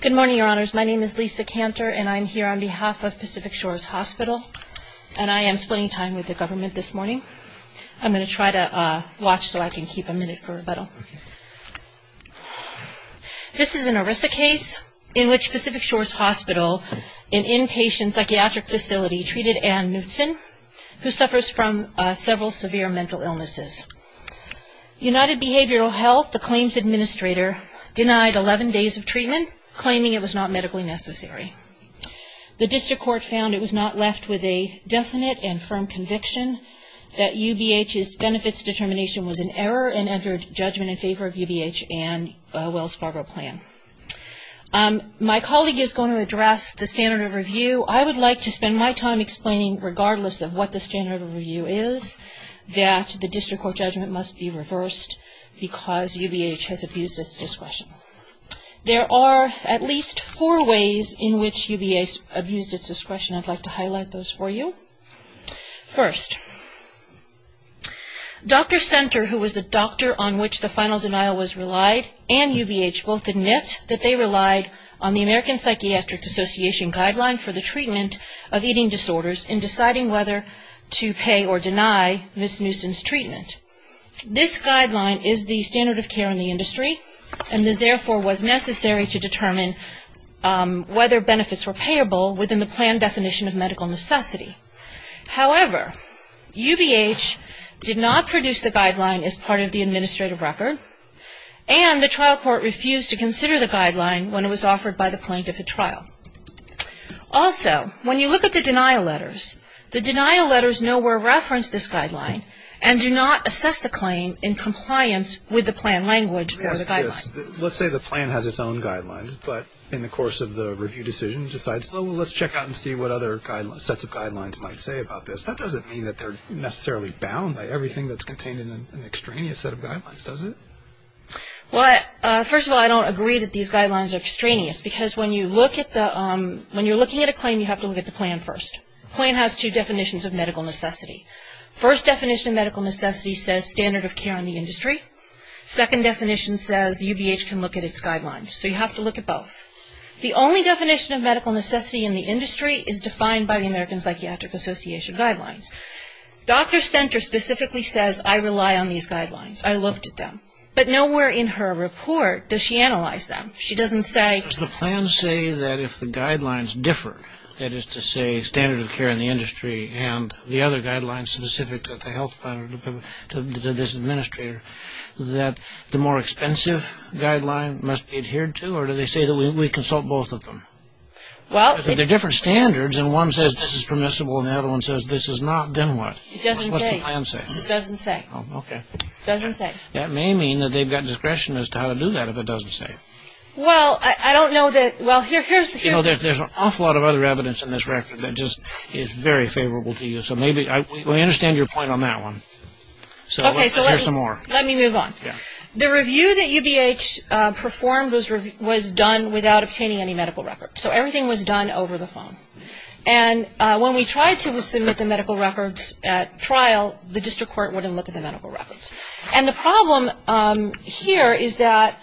Good morning, Your Honors. My name is Lisa Cantor, and I am here on behalf of Pacific Shores Hospital, and I am splitting time with the government this morning. I'm going to try to watch so I can keep a minute for rebuttal. This is an ERISA case in which Pacific Shores Hospital, an inpatient psychiatric facility, treated Ann Knutson, who suffers from several severe mental illnesses. United Behavioral Health, the claims administrator, denied 11 days of treatment, claiming it was not medically necessary. The district court found it was not left with a definite and firm conviction that UBH's benefits determination was an error and entered judgment in favor of UBH and Wells Fargo plan. My colleague is going to address the standard of review. I would like to spend my time explaining, regardless of what the standard of review is, that the district court judgment must be reversed because UBH has abused its discretion. There are at least four ways in which UBH has abused its discretion. I would like to highlight those for you. First, Dr. Senter, who was the doctor on which the final denial was relied, and UBH both admit that they relied on the American Psychiatric Association guideline for the treatment of nuisance treatment. This guideline is the standard of care in the industry and therefore was necessary to determine whether benefits were payable within the plan definition of medical necessity. However, UBH did not produce the guideline as part of the administrative record and the trial court refused to consider the guideline when it was offered by the plaintiff to trial. Also, when you look at the denial letters, the denial letters nowhere reference this guideline and do not assess the claim in compliance with the plan language or the guideline. Let's say the plan has its own guidelines, but in the course of the review decision decides, well, let's check out and see what other sets of guidelines might say about this. That doesn't mean that they're necessarily bound by everything that's contained in an extraneous set of guidelines, does it? Well, first of all, I don't agree that these guidelines are extraneous because when you look at the, when you're looking at a claim, you have to look at the plan first. The plan has two definitions of medical necessity. First definition of medical necessity says standard of care in the industry. Second definition says UBH can look at its guidelines, so you have to look at both. The only definition of medical necessity in the industry is defined by the American Psychiatric Association guidelines. Dr. Stenter specifically says, I rely on these guidelines. I looked at them. But nowhere in her report does she analyze them. She doesn't say- Does the plan say that if the guidelines differ, that is to say standard of care in the industry and the other guidelines specific to the health plan or to this administrator, that the more expensive guideline must be adhered to or do they say that we consult both of them? Well- But they're different standards and one says this is permissible and the other one says this is not, then what? It doesn't say. What does the plan say? It doesn't say. Oh, okay. It doesn't say. That may mean that they've got discretion as to how to do that if it doesn't say. Well, I don't know that, well, here's the- You know, there's an awful lot of other evidence in this record that just is very favorable to you, so maybe, we understand your point on that one. Okay, so let's- So let's hear some more. Let me move on. Yeah. The review that UBH performed was done without obtaining any medical records. So everything was done over the phone. And when we tried to submit the medical records at trial, the district court wouldn't look at the medical records. And the problem here is that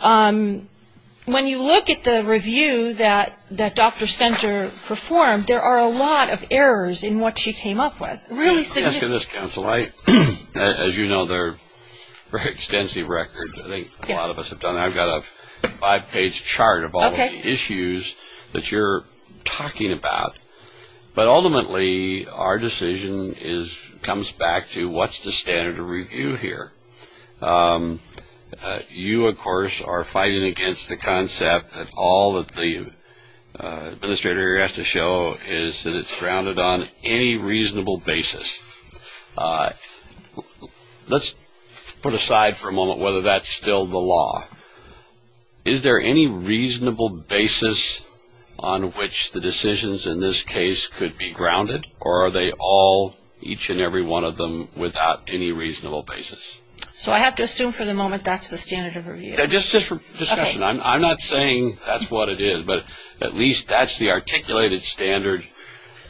when you look at the review that Dr. Senter performed, there are a lot of errors in what she came up with. Really- Let me ask you this, counsel. As you know, they're extensive records. I think a lot of what you're talking about. But ultimately, our decision comes back to what's the standard of review here? You, of course, are fighting against the concept that all that the administrator has to show is that it's grounded on any reasonable basis. Let's put aside for a moment whether that's still the law. Is there any reasonable basis on which the decisions in this case could be grounded? Or are they all, each and every one of them, without any reasonable basis? So I have to assume for the moment that's the standard of review? Just for discussion. I'm not saying that's what it is. But at least that's the articulated standard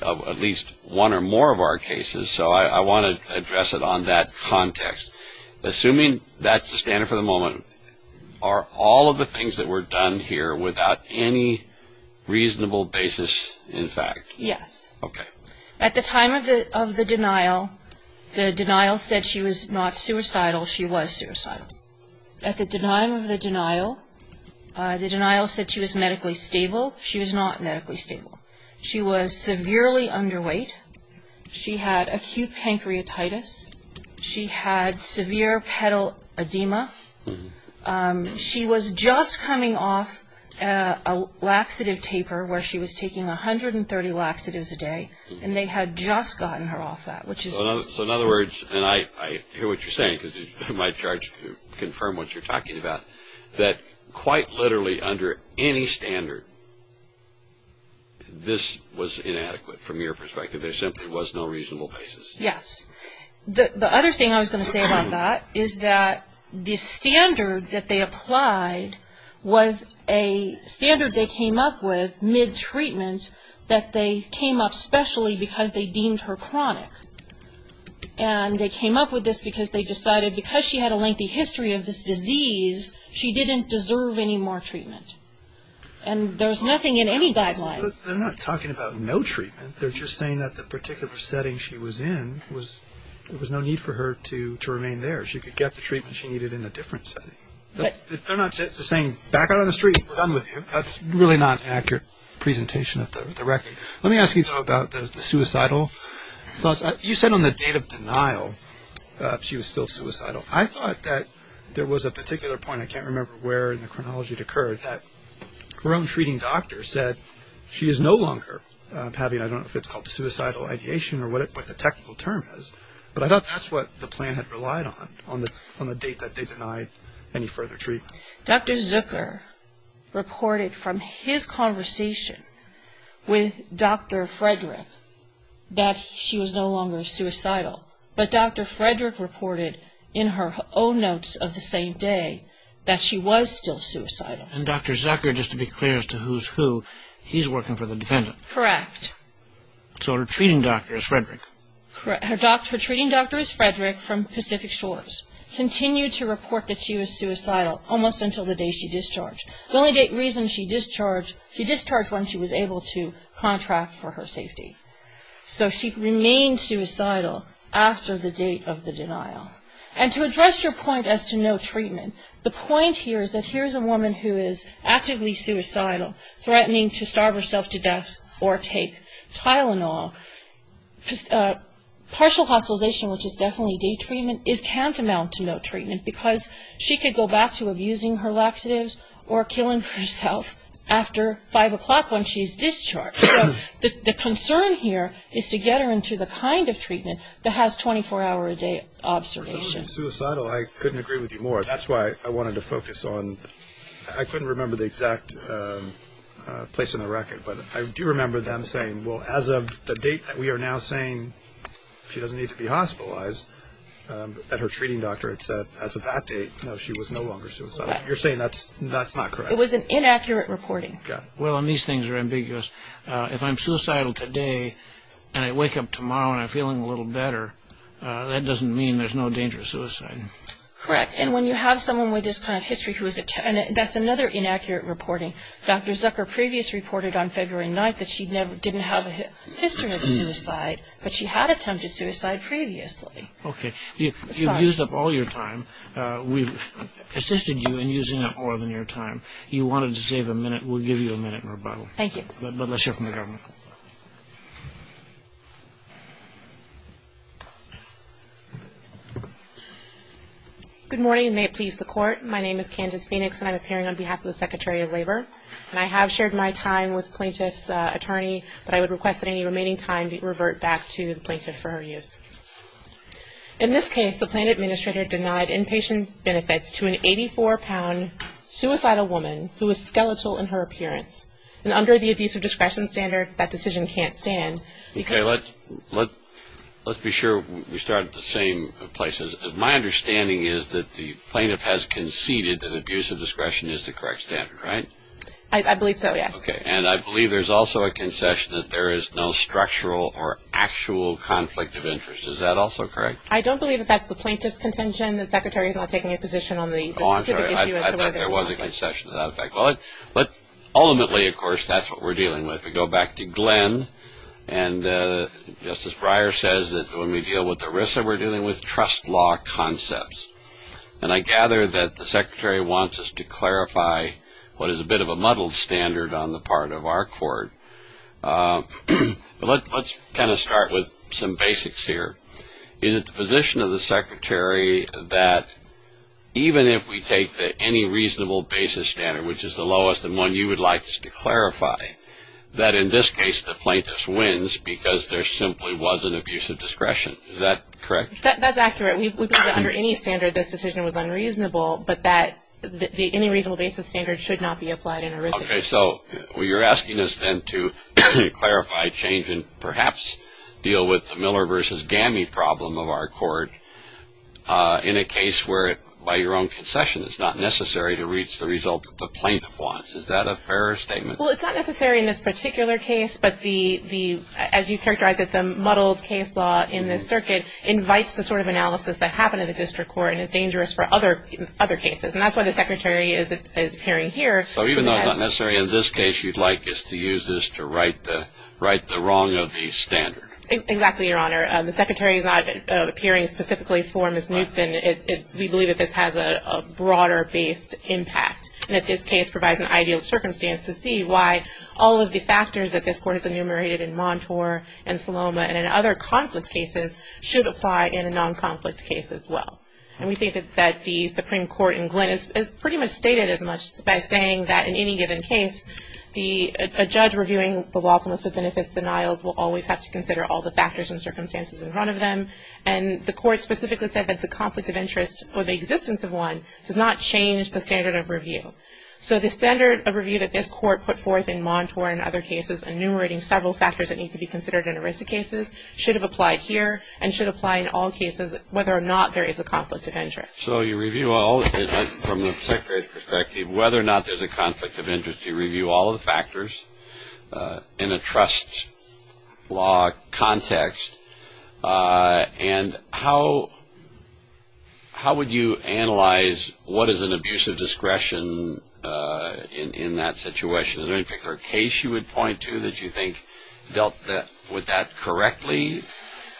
of at least one or more of our cases. So I want to address it on that context. Assuming that's the standard for the moment, are all of the things that were done here without any reasonable basis, in fact? Yes. At the time of the denial, the denial said she was not suicidal. She was suicidal. At the time of the denial, the denial said she was medically stable. She was not medically pedaledema. She was just coming off a laxative taper, where she was taking 130 laxatives a day. And they had just gotten her off that, which is... So in other words, and I hear what you're saying, because you're my charge to confirm what you're talking about, that quite literally under any standard, this was inadequate from your perspective. There simply was no reasonable basis. Yes. The other thing I was going to say about that is that the standard that they applied was a standard they came up with mid-treatment that they came up specially because they deemed her chronic. And they came up with this because they decided because she had a lengthy history of this disease, she didn't deserve any more treatment. And there's nothing in any guideline. But they're not talking about no treatment. They're just saying that the particular setting she was in, there was no need for her to remain there. She could get the treatment she needed in a different setting. They're not just saying, back out on the street. We're done with you. That's really not an accurate presentation of the record. Let me ask you, though, about the suicidal thoughts. You said on the date of denial, she was still suicidal. I thought that there was a particular point, I can't remember where in the chronology it occurred, that her own treating doctor said, she is no longer having I don't know if it's called suicidal ideation or what the technical term is. But I thought that's what the plan had relied on, on the date that they denied any further treatment. Dr. Zucker reported from his conversation with Dr. Frederick that she was no longer suicidal. But Dr. Frederick reported in her own notes of the same day that she was still suicidal. And Dr. Zucker, just to be clear as to who's who, he's working for the defendant. Correct. So her treating doctor is Frederick. Her treating doctor is Frederick from Pacific Shores. Continued to report that she was suicidal almost until the day she discharged. The only reason she discharged, she discharged when she was able to contract for her safety. So she remained suicidal after the date of the denial. And to address your point as to no treatment, the point here is that here's a woman who is actively suicidal, threatening to starve herself to death or take Tylenol. Partial hospitalization, which is definitely day treatment, is tantamount to no treatment because she could go back to abusing her laxatives or killing herself after 5 o'clock when she's discharged. So the concern here is to get her into the kind of treatment that has 24 hour a day observation. If she was suicidal, I couldn't agree with you more. That's why I wanted to focus on, I couldn't remember the exact place on the record, but I do remember them saying, well, as of the date that we are now saying she doesn't need to be hospitalized, that her treating doctor had said as of that date, no, she was no longer suicidal. You're saying that's not correct. It was an inaccurate reporting. Got it. Well, and these things are ambiguous. If I'm suicidal today and I wake up tomorrow and I'm feeling a little better, that doesn't mean there's no danger of suicide. Correct. And when you have someone with this kind of history who is, that's another inaccurate reporting. Dr. Zucker previously reported on February 9th that she didn't have a history of suicide, but she had attempted suicide previously. Okay. You've used up all your time. We've assisted you in using up more than your time. You wanted to save a minute. We'll give you a minute in rebuttal. Thank you. But let's hear from the government. Good morning, and may it please the court. My name is Candace Phoenix, and I'm appearing on behalf of the Secretary of Labor. And I have shared my time with the plaintiff's attorney, but I would request that any remaining time be revert back to the plaintiff for her use. In this case, the plan administrator denied inpatient benefits to an 84-pound suicidal woman who was skeletal in her appearance. And under the abuse of discretion standard, that decision can't stand. Okay, let's be sure we start at the same place. My understanding is that the plaintiff has conceded that abuse of discretion is the correct standard, right? I believe so, yes. Okay. And I believe there's also a concession that there is no structural or actual conflict of interest. Is that also correct? I don't believe that that's the plaintiff's contention. The Secretary is not taking a position on the specific issue as to whether it's not. Oh, I'm sorry. I thought there was a concession to that effect. But ultimately, of course, that's what we're dealing with. We go back to Glenn, and Justice Breyer says that when we deal with ERISA, we're dealing with trust law concepts. And I gather that the Secretary wants us to clarify what is a bit of a muddled standard on the part of our court. Let's kind of start with some basics here. Is it the position of the Secretary that even if we take that any reasonable basis standard, which is the lowest and one you would like to clarify, that in this case, the plaintiff wins because there simply was an abuse of discretion? Is that correct? That's accurate. We believe that under any standard, this decision was unreasonable, but that the any reasonable basis standard should not be applied in ERISA. Okay. So you're asking us then to clarify, change, and perhaps deal with the Miller versus GAMI problem of our court in a case where, by your own concession, it's not necessary to reach the result that the plaintiff wants. Is that a fair statement? Well, it's not necessary in this particular case, but as you characterized it, the muddled case law in this circuit invites the sort of analysis that happened in the district court and is dangerous for other cases. And that's why the Secretary is appearing here. So even though it's not necessary in this case, you'd like us to use this to right the wrong of the standard? Exactly, Your Honor. The Secretary is not appearing specifically for Ms. Knutson. We believe that this has a broader based impact and that this case provides an ideal circumstance to see why all of the factors that this court has enumerated in Montour and Saloma and in other conflict cases should apply in a non-conflict case as well. And we think that the Supreme Court in Glynn has pretty much stated as much by saying that in any given case, a judge reviewing the lawfulness of benefits denials will always have to consider all the factors and circumstances in front of them. And the court specifically said that the conflict of interest or the existence of one does not change the standard of review. So the standard of review that this court put forth in Montour and other cases enumerating several factors that need to be considered in a risk of cases should have applied here and should apply in all cases whether or not there is a conflict of interest. So you review all, from the Secretary's perspective, whether or not there's a conflict of interest, you review all of the factors in a trust law context. And how would you analyze what is an abuse of discretion in that situation? Is there any particular case you would point to that you think dealt with that correctly?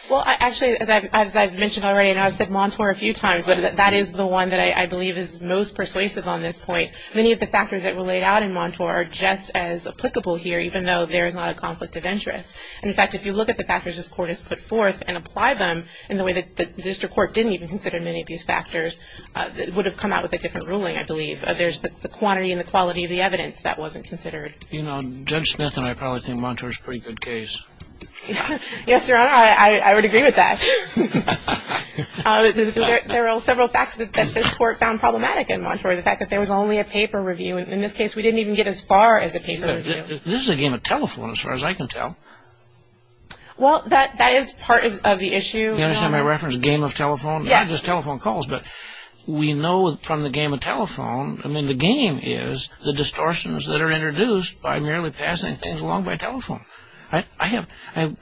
Well, actually, as I've mentioned already and I've said Montour a few times, that is the one that I believe is most persuasive on this point. Many of the factors that were referred for are just as applicable here even though there is not a conflict of interest. In fact, if you look at the factors this court has put forth and apply them in the way that the district court didn't even consider many of these factors, it would have come out with a different ruling, I believe. There's the quantity and the quality of the evidence that wasn't considered. You know, Judge Smith and I probably think Montour is a pretty good case. Yes, Your Honor, I would agree with that. There are several facts that this court found problematic in Montour. The fact that there was only a paper review. In this case, we didn't even get as far as a paper review. This is a game of telephone, as far as I can tell. Well, that is part of the issue, Your Honor. You understand my reference, a game of telephone? Yes. Not just telephone calls, but we know from the game of telephone, I mean, the game is the distortions that are introduced by merely passing things along by telephone. I have a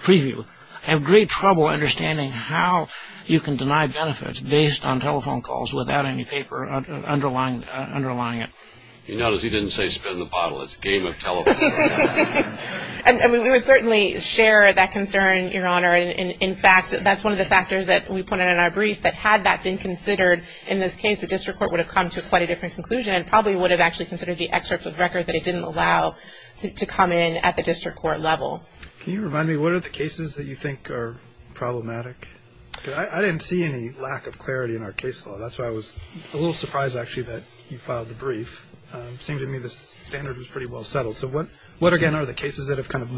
preview. I have great trouble understanding how you can deny benefits based on telephone calls without any paper underlying it. You notice he didn't say, spin the bottle. It's a game of telephone. And we would certainly share that concern, Your Honor. In fact, that's one of the factors that we put in our brief, that had that been considered in this case, the district court would have come to quite a different conclusion and probably would have actually considered the excerpt of the record that it didn't allow to come in at the district court level. Can you remind me, what are the cases that you think are problematic? Because I didn't see any lack of clarity in our case law. That's why I was a little surprised, actually, that you filed the brief. It seemed to me the standard was pretty well settled. So what, again, are the cases that have kind of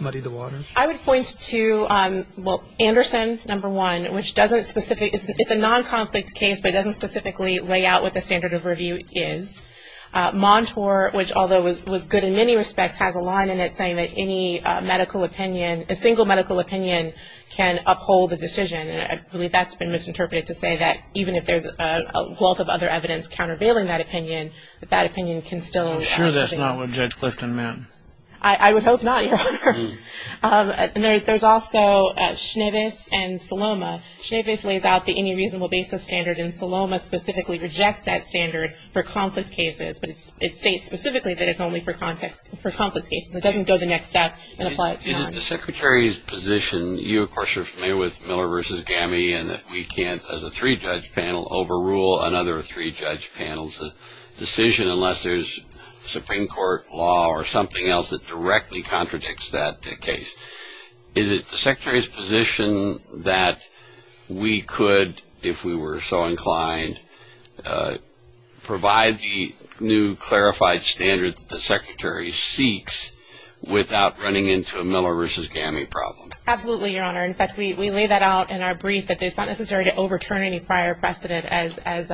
muddied the waters? I would point to, well, Anderson, number one, which doesn't specifically, it's a non-conflict case, but it doesn't specifically lay out what the standard of review is. Montour, which although was good in many respects, has a line in it saying that any medical opinion, a single medical opinion, can uphold the decision. And I believe that's been misinterpreted to say that even if there's a wealth of other evidence countervailing that opinion, that opinion can still I'm sure that's not what Judge Clifton meant. I would hope not, Your Honor. There's also Schneves and Saloma. Schneves lays out the any reasonable basis standard, and Saloma specifically rejects that standard for conflict cases. But it states specifically that it's only for conflict cases. It doesn't go the next step and apply it to non-conflict cases. Is it the Secretary's position, you of course are familiar with Miller v. Gammie and that we can't, as a three-judge panel, overrule another three-judge panel's decision unless there's Supreme Court law or something else that directly contradicts that case. Is it the Secretary's position that we could, if we were so inclined, provide the new clarified standard that the Secretary seeks without running into a Miller v. Gammie problem? Absolutely, Your Honor. In fact, we lay that out in our brief that it's not necessary to overturn any prior precedent. As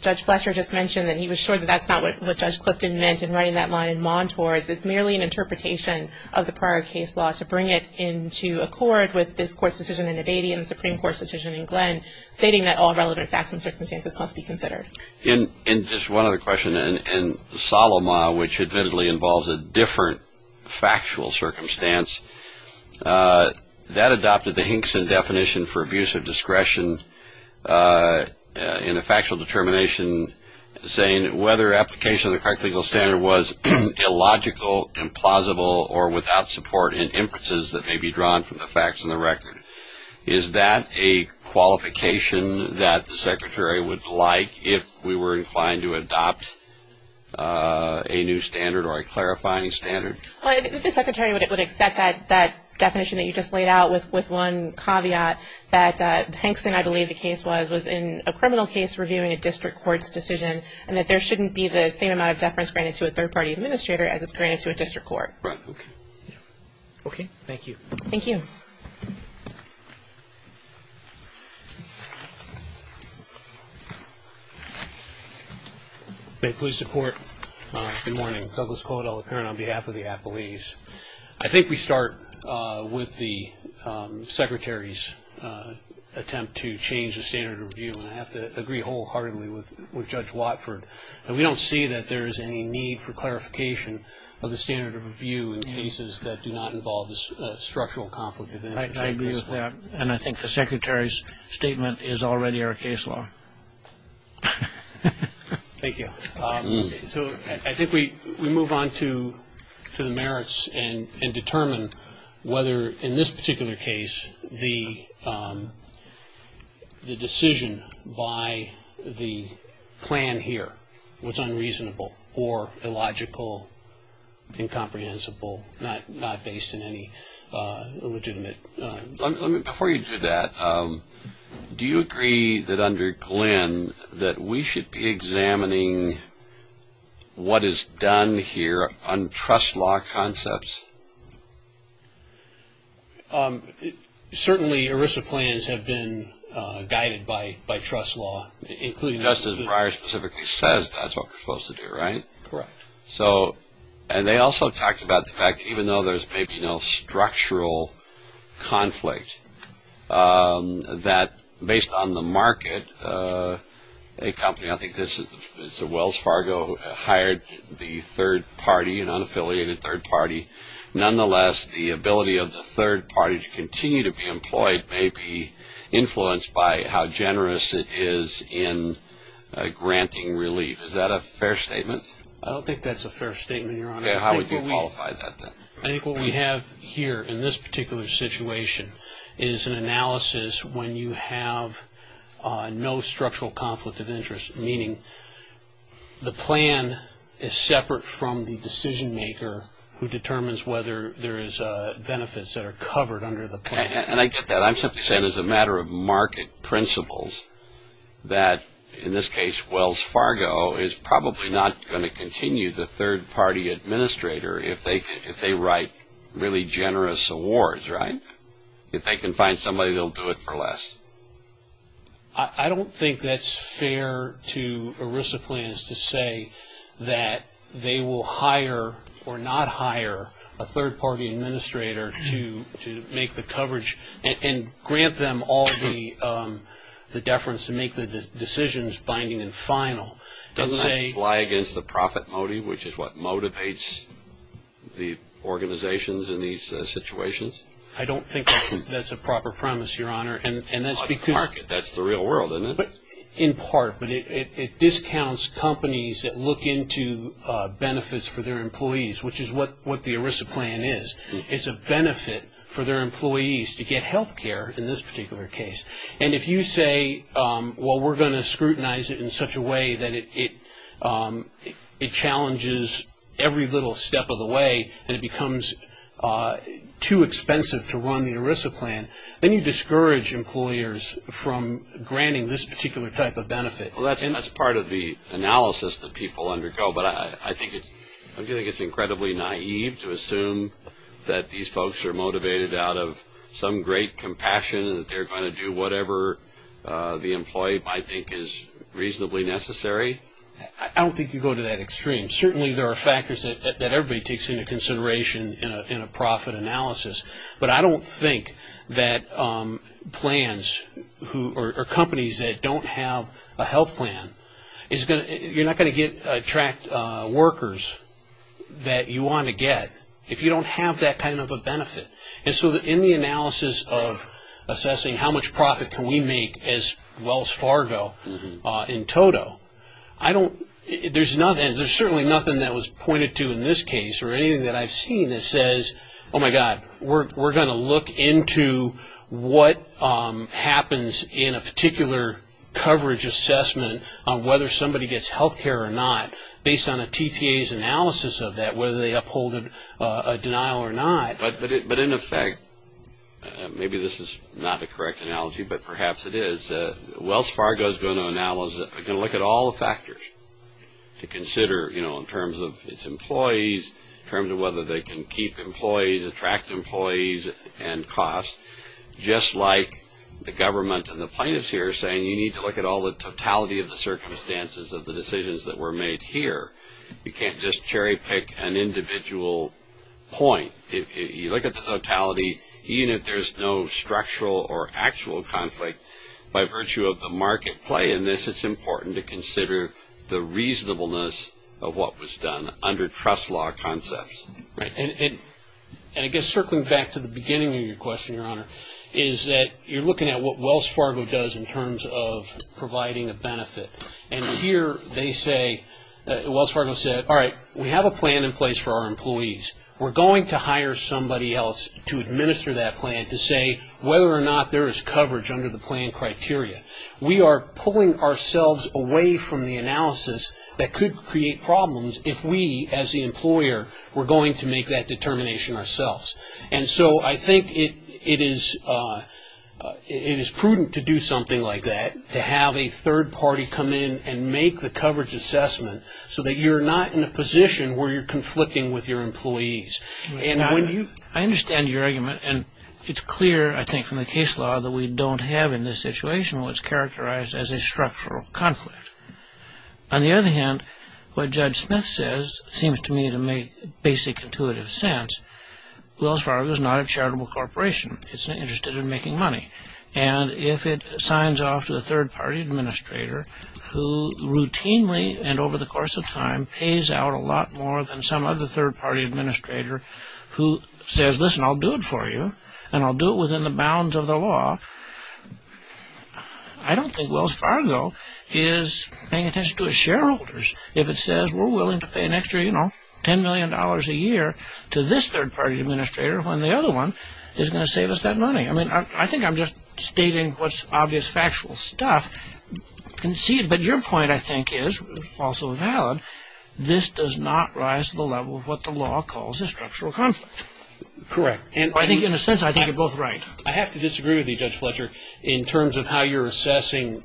Judge Fletcher just mentioned, that he was sure that that's not what Judge Clifton meant in writing that line in Montours. It's merely an interpretation of the prior case law to bring it into accord with this Court's decision in Abadie and the Supreme Court's decision in Glenn, stating that all relevant facts and circumstances must be considered. And just one other question. In Saloma, which admittedly involves a different factual circumstance, that adopted the Hinkson definition for abuse of discretion in a factual determination saying whether application of the correct legal standard was illogical, implausible, or without support in inferences that may be drawn from the facts and the record. Is that a qualification that the Secretary would like if we were inclined to adopt a new standard or a clarifying standard? Well, I think the Secretary would accept that definition that you just laid out with one caveat that Hinkson, I believe the case was, was in a criminal case reviewing a district court's decision and that there shouldn't be the same amount of deference granted to a third-party administrator as is granted to a district court. Right, okay. Okay, thank you. Thank you. May it please the Court, good morning. Douglas Caudill, the parent on behalf of the Appellees. I think we start with the Secretary's attempt to change the standard of review, and I have to agree wholeheartedly with Judge Watford that we don't see that there is any need for clarification of the standard of review in cases that do not involve structural conflict of interest. I agree with that, and I think the Secretary's statement is already our case law. Thank you. So I think we move on to the merits and determine whether, in this particular case, the decision by the plan here was unreasonable or illogical, incomprehensible, not based on any illegitimate... Before you do that, do you agree that under Glenn that we should be examining what is done here on trust law concepts? Certainly ERISA plans have been guided by trust law, including... Just as Breyer specifically says, that's what we're supposed to do, right? Correct. So, and they also talked about the fact that even though there's maybe no structural conflict, that based on the market, a company, I think this is Wells Fargo, hired the third party, an unaffiliated third party. Nonetheless, the ability of the third party to continue to be employed may be influenced by how generous it is in granting relief. Is that a fair statement? I don't think that's a fair statement, Your Honor. Okay, how would you qualify that then? I think what we have here in this particular situation is an analysis when you have no structural conflict of interest, meaning the plan is separate from the decision maker who determines whether there is benefits that are covered under the plan. And I get that. I'm simply saying as a matter of market principles that, in this case, Wells is going to continue the third party administrator if they write really generous awards, right? If they can find somebody, they'll do it for less. I don't think that's fair to ERISA plans to say that they will hire or not hire a third party administrator to make the coverage and grant them all the deference to make the decisions binding and final. Doesn't that fly against the profit motive, which is what motivates the organizations in these situations? I don't think that's a proper premise, Your Honor. That's the market. That's the real world, isn't it? In part, but it discounts companies that look into benefits for their employees, which is what the ERISA plan is. It's a benefit for their employees to get health care in this and it challenges every little step of the way and it becomes too expensive to run the ERISA plan. Then you discourage employers from granting this particular type of benefit. Well, that's part of the analysis that people undergo, but I think it's incredibly naive to assume that these folks are motivated out of some great compassion that they're going to do whatever the employee might think is reasonably necessary. I don't think you go to that extreme. Certainly there are factors that everybody takes into consideration in a profit analysis, but I don't think that plans or companies that don't have a health plan, you're not going to attract workers that you want to get if you don't have that kind of a benefit. In the analysis of assessing how much profit can we make as Wells Fargo in total, there's certainly nothing that was pointed to in this case or anything that I've seen that says, oh my God, we're going to look into what happens in a particular coverage assessment on whether somebody gets health care or not based on a TPA's analysis of that, whether they uphold a denial or not. But in effect, maybe this is not a correct analogy, but perhaps it is, Wells Fargo is going to look at all the factors to consider in terms of its employees, in terms of whether they can keep employees, attract employees, and cost, just like the government and the plaintiffs here are saying you need to look at all the totality of the circumstances of the decisions that were made here. You can't just cherry pick an individual point. You look at the totality, even if there's no structural or actual conflict, by virtue of the market play in this, it's important to consider the reasonableness of what was done under trust law concepts. Right. And I guess circling back to the beginning of your question, Your Honor, is that you're looking at what Wells Fargo does in terms of providing a benefit. And here they say, Wells Fargo said, all right, we have a plan in place for our employees. We're going to hire somebody else to administer that plan to say whether or not there is coverage under the plan criteria. We are pulling ourselves away from the analysis that could create problems if we, as the employer, were going to make that determination ourselves. And so I think it is prudent to do something like that, to have a third party come in and make the coverage assessment so that you're not in a position where you're conflicting with your employees. I understand your argument, and it's clear, I think, from the case law that we don't have in this situation what's characterized as a structural conflict. On the other hand, what Judge Smith says seems to me to make basic intuitive sense. Wells Fargo is not a charitable corporation. It's interested in making money. And if it signs off to a third party administrator who routinely and over the course of time pays out a lot more than some other third party administrator who says, listen, I'll do it for you, and I'll do it within the bounds of the law, I don't think Wells Fargo is going to pay attention to its shareholders if it says we're willing to pay an extra $10 million a year to this third party administrator when the other one is going to save us that money. I think I'm just stating what's obvious factual stuff. But your point, I think, is also valid. This does not rise to the level of what the law calls a structural conflict. Correct. In a sense, I think you're both right. I have to disagree with you, Judge Fletcher. In terms of how you're assessing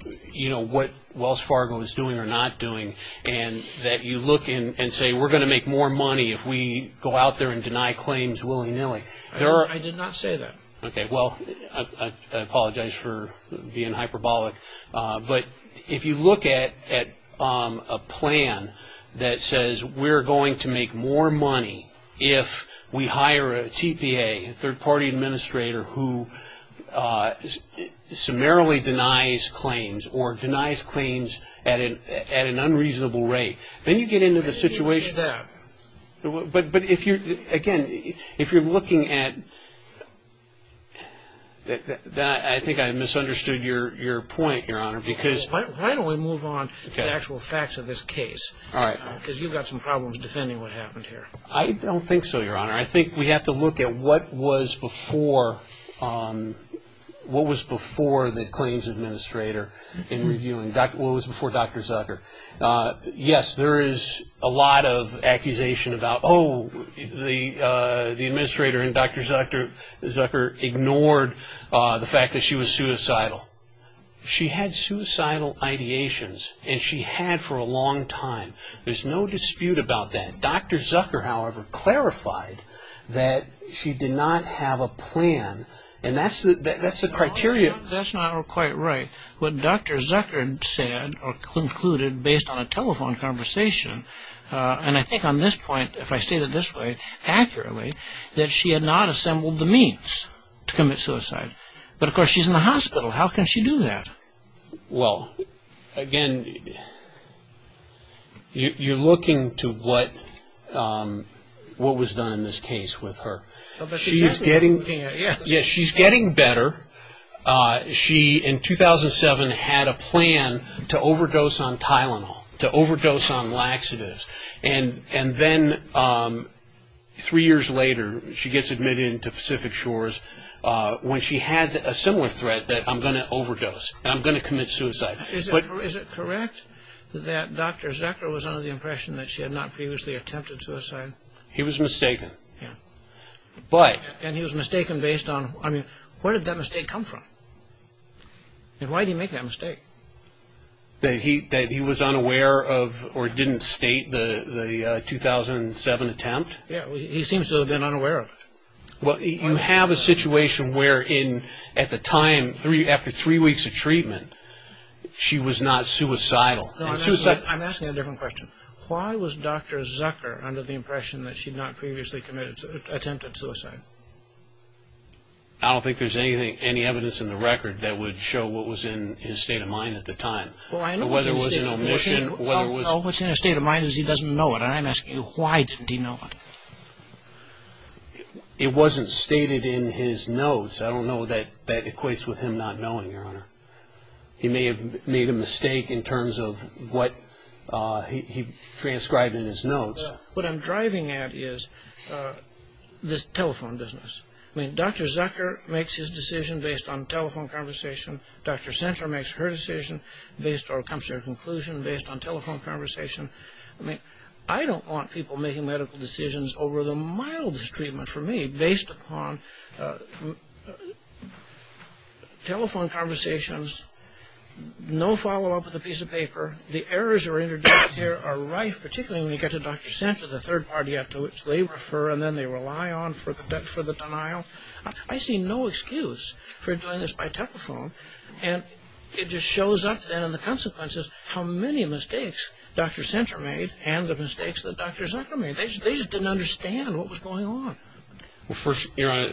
what Wells Fargo is doing or not doing, and that you look and say, we're going to make more money if we go out there and deny claims willy-nilly. I did not say that. Okay, well, I apologize for being hyperbolic. But if you look at a plan that says we're going to make more money if we hire a TPA, a third party administrator, who summarily denies claims or denies claims at an unreasonable rate, then you get into the situation. I didn't mean to use that. But if you're, again, if you're looking at, I think I misunderstood your point, Your Honor, because... Why don't we move on to the actual facts of this case? All right. Because you've got some problems defending what happened here. I don't think so, Your Honor. I think we have to look at what was before, what was before the claims administrator in reviewing, what was before Dr. Zucker. Yes, there is a lot of accusation about, oh, the administrator in Dr. Zucker ignored the fact that she was suicidal. She had suicidal ideations, and she had for a long time. There's no dispute about that. Dr. Zucker, however, clarified that she did not have a plan, and that's the criteria... That's not quite right. What Dr. Zucker said, or concluded, based on a telephone conversation, and I think on this point, if I state it this way, accurately, that she had not assembled the means to commit suicide. But of course, she's in the hospital. How can she do that? Well, again, you're looking to what was done in this case with her. She's getting better. She in 2007 had a plan to overdose on Tylenol, to overdose on laxatives, and then three years later she gets admitted into Pacific Shores when she had a similar threat that, I'm going to overdose, and I'm going to commit suicide. Is it correct that Dr. Zucker was under the impression that she had not previously attempted suicide? He was mistaken, but... And he was mistaken based on, I mean, where did that mistake come from? And why did he make that mistake? That he was unaware of, or didn't state, the 2007 attempt? Yeah, he seems to have been unaware of it. Well, you have a situation where in, at the time, after three weeks of treatment, she was not suicidal, and suicide... I'm asking a different question. Why was Dr. Zucker under the impression that she had not previously attempted suicide? I don't think there's any evidence in the record that would show what was in his state of mind at the time, whether it was an omission, whether it was... Well, what's in his state of mind is he doesn't know it, and I'm asking you, why didn't he know it? It wasn't stated in his notes. I don't know that that equates with him not knowing, Your Honor. He may have made a mistake in terms of what he transcribed in his notes. What I'm driving at is this telephone business. I mean, Dr. Zucker makes his decision based on telephone conversation. Dr. Senter makes her decision based, or comes to her conclusion, based on telephone conversation. I mean, I don't want people making medical decisions over the mildest treatment for me, based upon telephone conversations, no follow-up with a piece of paper. The errors that are introduced here are rife, particularly when you get to Dr. Senter, the third party after which they refer, and then they rely on for the denial. I see no excuse for doing this by telephone, and it just shows up then in the consequences how many mistakes Dr. Senter made and the mistakes that Dr. Zucker made. They just didn't understand what was going on. The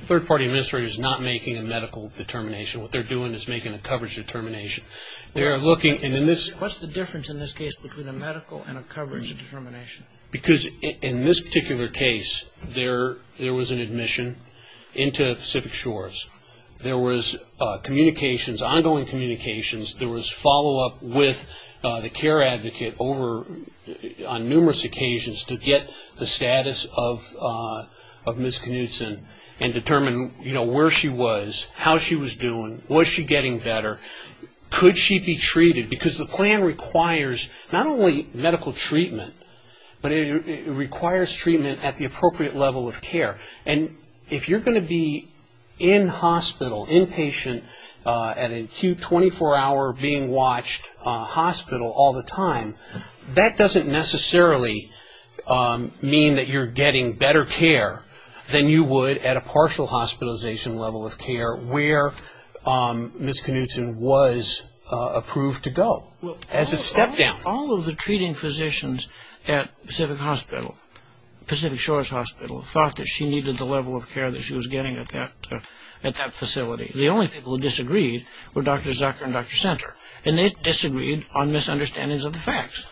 third party administrator is not making a medical determination. What they're doing is making a coverage determination. What's the difference in this case between a medical and a coverage determination? Because in this particular case, there was an admission into Pacific Shores. There was communications, ongoing communications. There was follow-up with the care advocate on numerous occasions to get the status of Ms. Knutson and determine where she was, how she was doing, was she getting better? Could she be treated? Because the plan requires not only medical treatment, but it requires treatment at the appropriate level of care. If you're going to be in-hospital, inpatient, at an acute 24-hour being-watched hospital all the time, that doesn't necessarily mean that you're getting better care than you would at a partial hospitalization level of care where Ms. Knutson was approved to go as a step down. All of the treating physicians at Pacific Shores Hospital thought that she needed the level of care that she was getting at that facility. The only people who disagreed were Dr. Zucker and Dr. Center, and they disagreed on misunderstandings of the facts.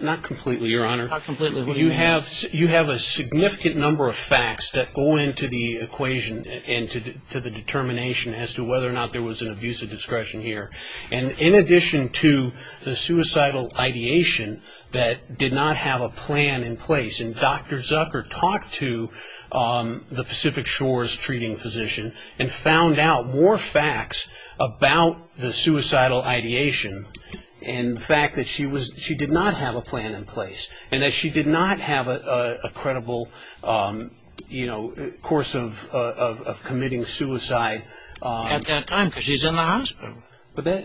Not completely, Your Honor. You have a significant number of facts that go into the equation, into the determination as to whether or not there was an abuse of discretion here. In addition to the suicidal ideation that did not have a plan in place, and Dr. Zucker talked to the Pacific Shores treating physician and found out more facts about the suicidal ideation and the fact that she did not have a plan in place, and that she did not have a credible course of committing suicide. At that time, because she's in the hospital.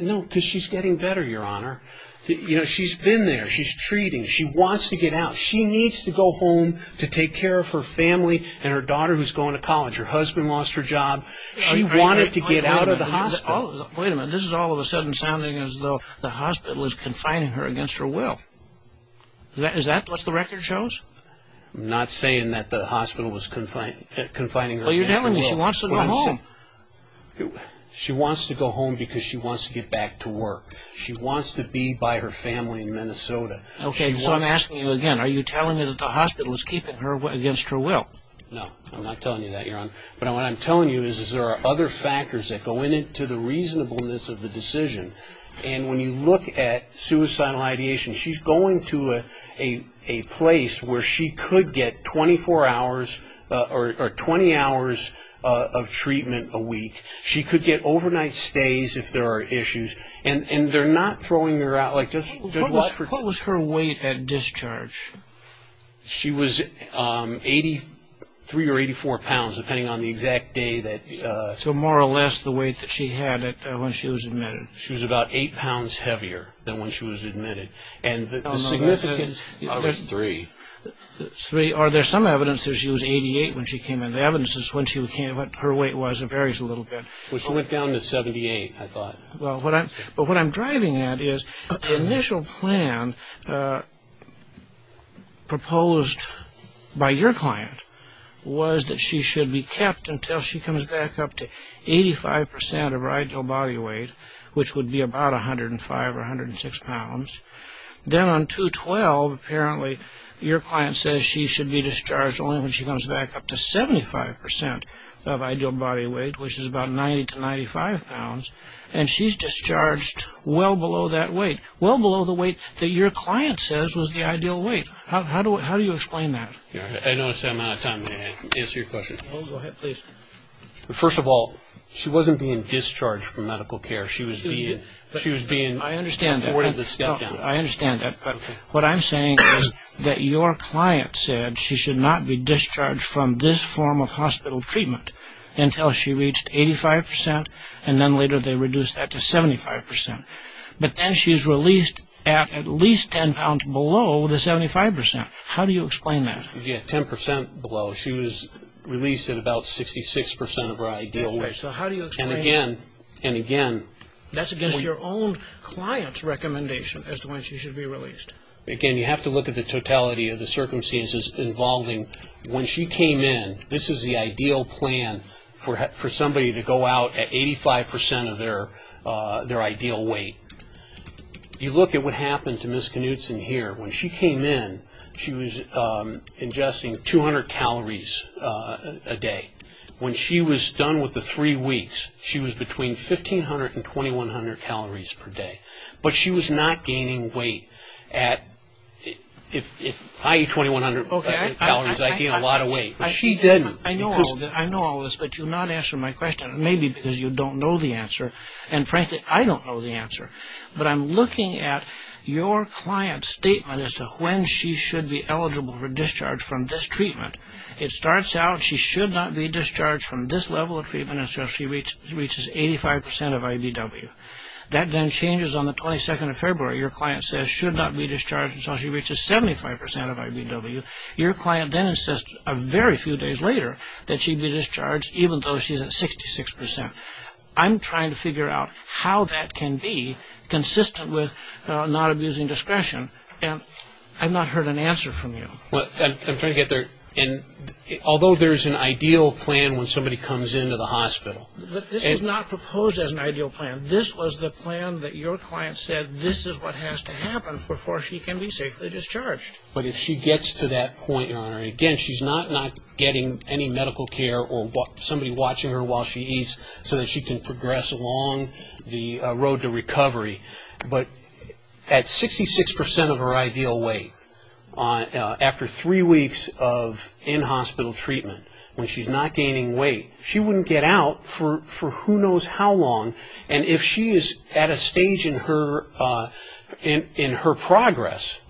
No, because she's getting better, Your Honor. She's been there. She's treating. She wants to get out. She needs to go home to take care of her family and her daughter who's going to college. Her husband lost her job. She wanted to get out of the hospital. Wait a minute, this is all of a sudden sounding as though the hospital is confining her against her will. Is that what the record shows? Not saying that the hospital was confining her against her will. Well, you're telling me she wants to go home. She wants to go home because she wants to get back to work. She wants to be by her family in Minnesota. Okay, so I'm asking you again. Are you telling me that the hospital is keeping her against her will? No, I'm not telling you that, Your Honor. But what I'm telling you is that there are other factors that go into the reasonableness of the decision, and when you look at suicidal ideation, she's going to a place where she could get overnight stays if there are issues, and they're not throwing her out. What was her weight at discharge? She was 83 or 84 pounds, depending on the exact day. So more or less the weight that she had when she was admitted. She was about eight pounds heavier than when she was admitted. And the significance of it is three. Are there some evidence that she was 88 when she came in? I don't have evidence as to what her weight was. It varies a little bit. Well, she went down to 78, I thought. But what I'm driving at is the initial plan proposed by your client was that she should be kept until she comes back up to 85 percent of her ideal body weight, which would be about 105 or 106 pounds. Then on 2-12, apparently your client says she should be discharged only when she comes back up to 75 percent of ideal body weight, which is about 90 to 95 pounds. And she's discharged well below that weight. Well below the weight that your client says was the ideal weight. How do you explain that? I know it's out of time. May I answer your question? Go ahead, please. First of all, she wasn't being discharged from medical care. She was being afforded the step-down. I understand that. But what I'm saying is that your client said she should not be discharged from this form of hospital treatment until she reached 85 percent. And then later they reduced that to 75 percent. But then she's released at at least 10 pounds below the 75 percent. How do you explain that? Yeah, 10 percent below. She was released at about 66 percent of her ideal weight. So how do you explain that? And again, and again. That's against your own client's recommendation as to when she should be released. Again, you have to look at the totality of the circumstances involving when she came in. This is the ideal plan for somebody to go out at 85 percent of their ideal weight. You look at what happened to Ms. Knutson here. When she came in, she was ingesting 200 calories a day. When she was done with the three weeks, she was between 1,500 and 2,100 calories per day. But she was not gaining weight at, if I eat 2,100 calories, I gain a lot of weight. She didn't. I know all this, but you're not answering my question. It may be because you don't know the answer. And frankly, I don't know the answer. But I'm looking at your client's statement as to when she should be eligible for discharge from this treatment. It starts out, she should not be discharged from this level of treatment until she reaches 85 percent of IBW. That then changes on the 22nd of February. Your client says she should not be discharged until she reaches 75 percent of IBW. Your client then insists a very few days later that she be discharged, even though she's at 66 percent. I'm trying to figure out how that can be consistent with not abusing discretion, and I've not heard an answer from you. I'm trying to get there. Although there's an ideal plan when somebody comes into the hospital. This is not proposed as an ideal plan. This was the plan that your client said, this is what has to happen before she can be safely discharged. But if she gets to that point, Your Honor, and again, she's not getting any medical care or somebody watching her while she eats so that she can progress along the road to recovery. But at 66 percent of her ideal weight, after three weeks of in-hospital treatment, when she's not gaining weight, she wouldn't get out for who knows how long. If she's at a stage in her progress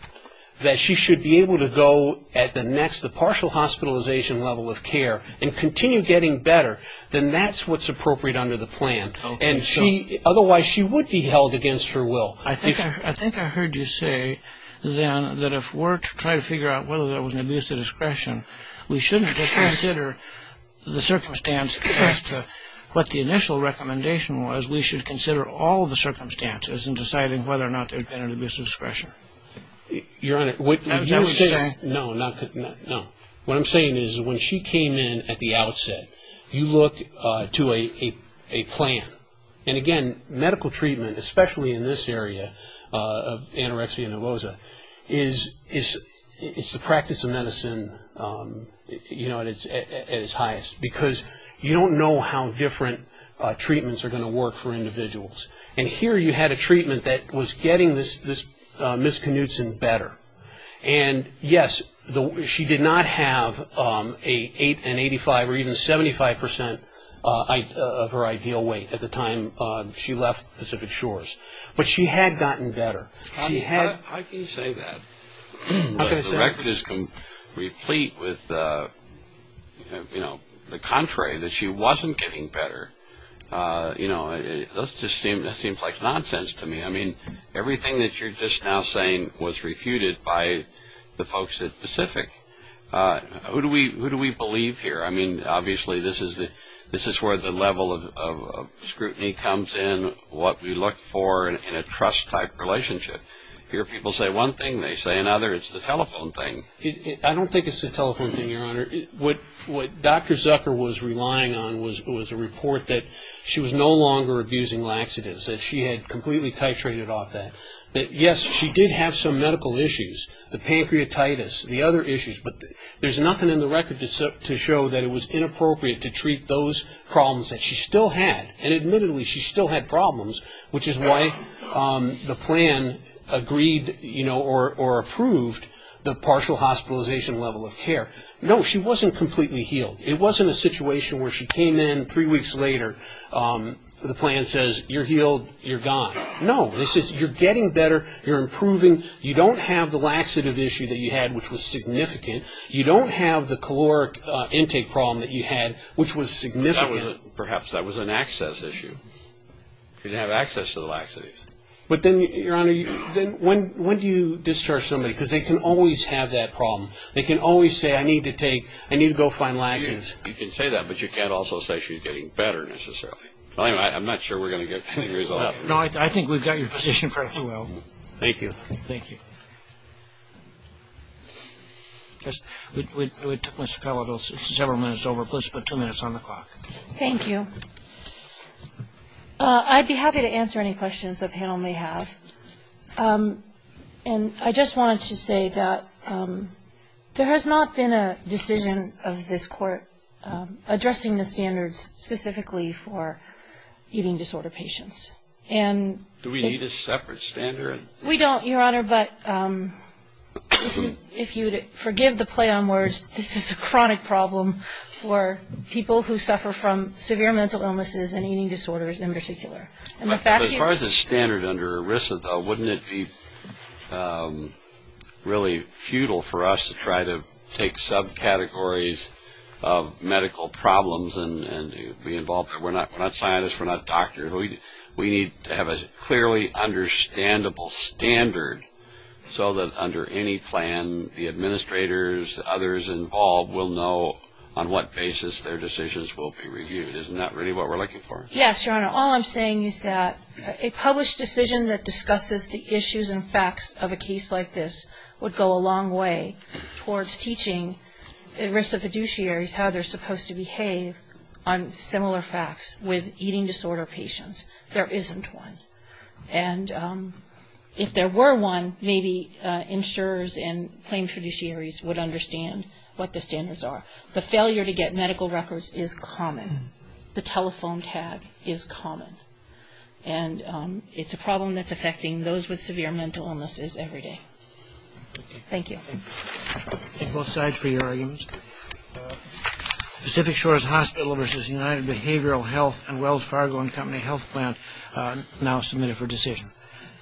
that she should be able to go at the next, the partial hospitalization level of care and continue getting better, then that's what's appropriate under the plan. And she, otherwise she would be held against her will. I think I heard you say then that if we're to try to figure out whether there was an abuse of discretion, we shouldn't just consider the circumstance as to what the initial recommendation was. We should consider all the circumstances in deciding whether or not there's been an abuse of discretion. Your Honor, what you're saying, no, no, what I'm saying is when she came in at the outset, you look to a plan. And again, medical treatment, especially in this area of anorexia nervosa, is the practice of medicine at its highest. Because you don't know how different treatments are going to work for individuals. And here you had a treatment that was getting this Ms. Knutson better. And yes, she did not have an 85 or even 75 percent of her ideal weight at the time she left Pacific Shores. But she had gotten better. She had. How can you say that? Look, the record is complete with, you know, the contrary, that she wasn't getting better. You know, that just seems like nonsense to me. I mean, everything that you're just now saying was refuted by the folks at Pacific. Who do we believe here? I mean, obviously, this is where the level of scrutiny comes in, what we look for in a trust-type relationship. Here people say one thing, they say another. It's the telephone thing. I don't think it's the telephone thing, Your Honor. What Dr. Zucker was relying on was a report that she was no longer abusing laxatives, that she had completely titrated off that. But yes, she did have some medical issues, the pancreatitis, the other issues. But there's nothing in the record to show that it was inappropriate to treat those problems that she still had. And admittedly, she still had problems, which is why the plan agreed, you know, or approved the partial hospitalization level of care. No, she wasn't completely healed. It wasn't a situation where she came in three weeks later. The plan says, you're healed, you're gone. No, this is, you're getting better, you're improving. You don't have the laxative issue that you had, which was significant. You don't have the caloric intake problem that you had, which was significant. Perhaps that was an access issue. She didn't have access to the laxatives. But then, Your Honor, when do you discharge somebody? Because they can always have that problem. They can always say, I need to take, I need to go find laxatives. You can say that, but you can't also say she's getting better, necessarily. I'm not sure we're going to get the result. No, I think we've got your position pretty well. Thank you. Thank you. We took Mr. Calabro several minutes over. Please put two minutes on the clock. Thank you. I'd be happy to answer any questions the panel may have. And I just wanted to say that there has not been a decision of this court addressing the standards specifically for eating disorder patients. And- Do we need a separate standard? We don't, Your Honor, but if you'd forgive the play on words, this is a chronic problem for people who suffer from severe mental illnesses and eating disorders in particular. As far as the standard under ERISA, though, wouldn't it be really futile for us to try to take subcategories of medical problems and be involved? We're not scientists. We're not doctors. We need to have a clearly understandable standard so that under any plan, the administrators, others involved will know on what basis their decisions will be reviewed. Isn't that really what we're looking for? Yes, Your Honor. All I'm saying is that a published decision that discusses the issues and facts of a case like this would go a long way towards teaching ERISA fiduciaries how they're supposed to behave on similar facts with eating disorder patients. There isn't one. And if there were one, maybe insurers and claims fiduciaries would understand what the standards are. The failure to get medical records is common. The telephone tag is common. And it's a problem that's affecting those with severe mental illnesses every day. Thank you. Thank you both sides for your arguments. Pacific Shores Hospital versus United Behavioral Health and Wells Fargo and Company Health Plan now submitted for decision.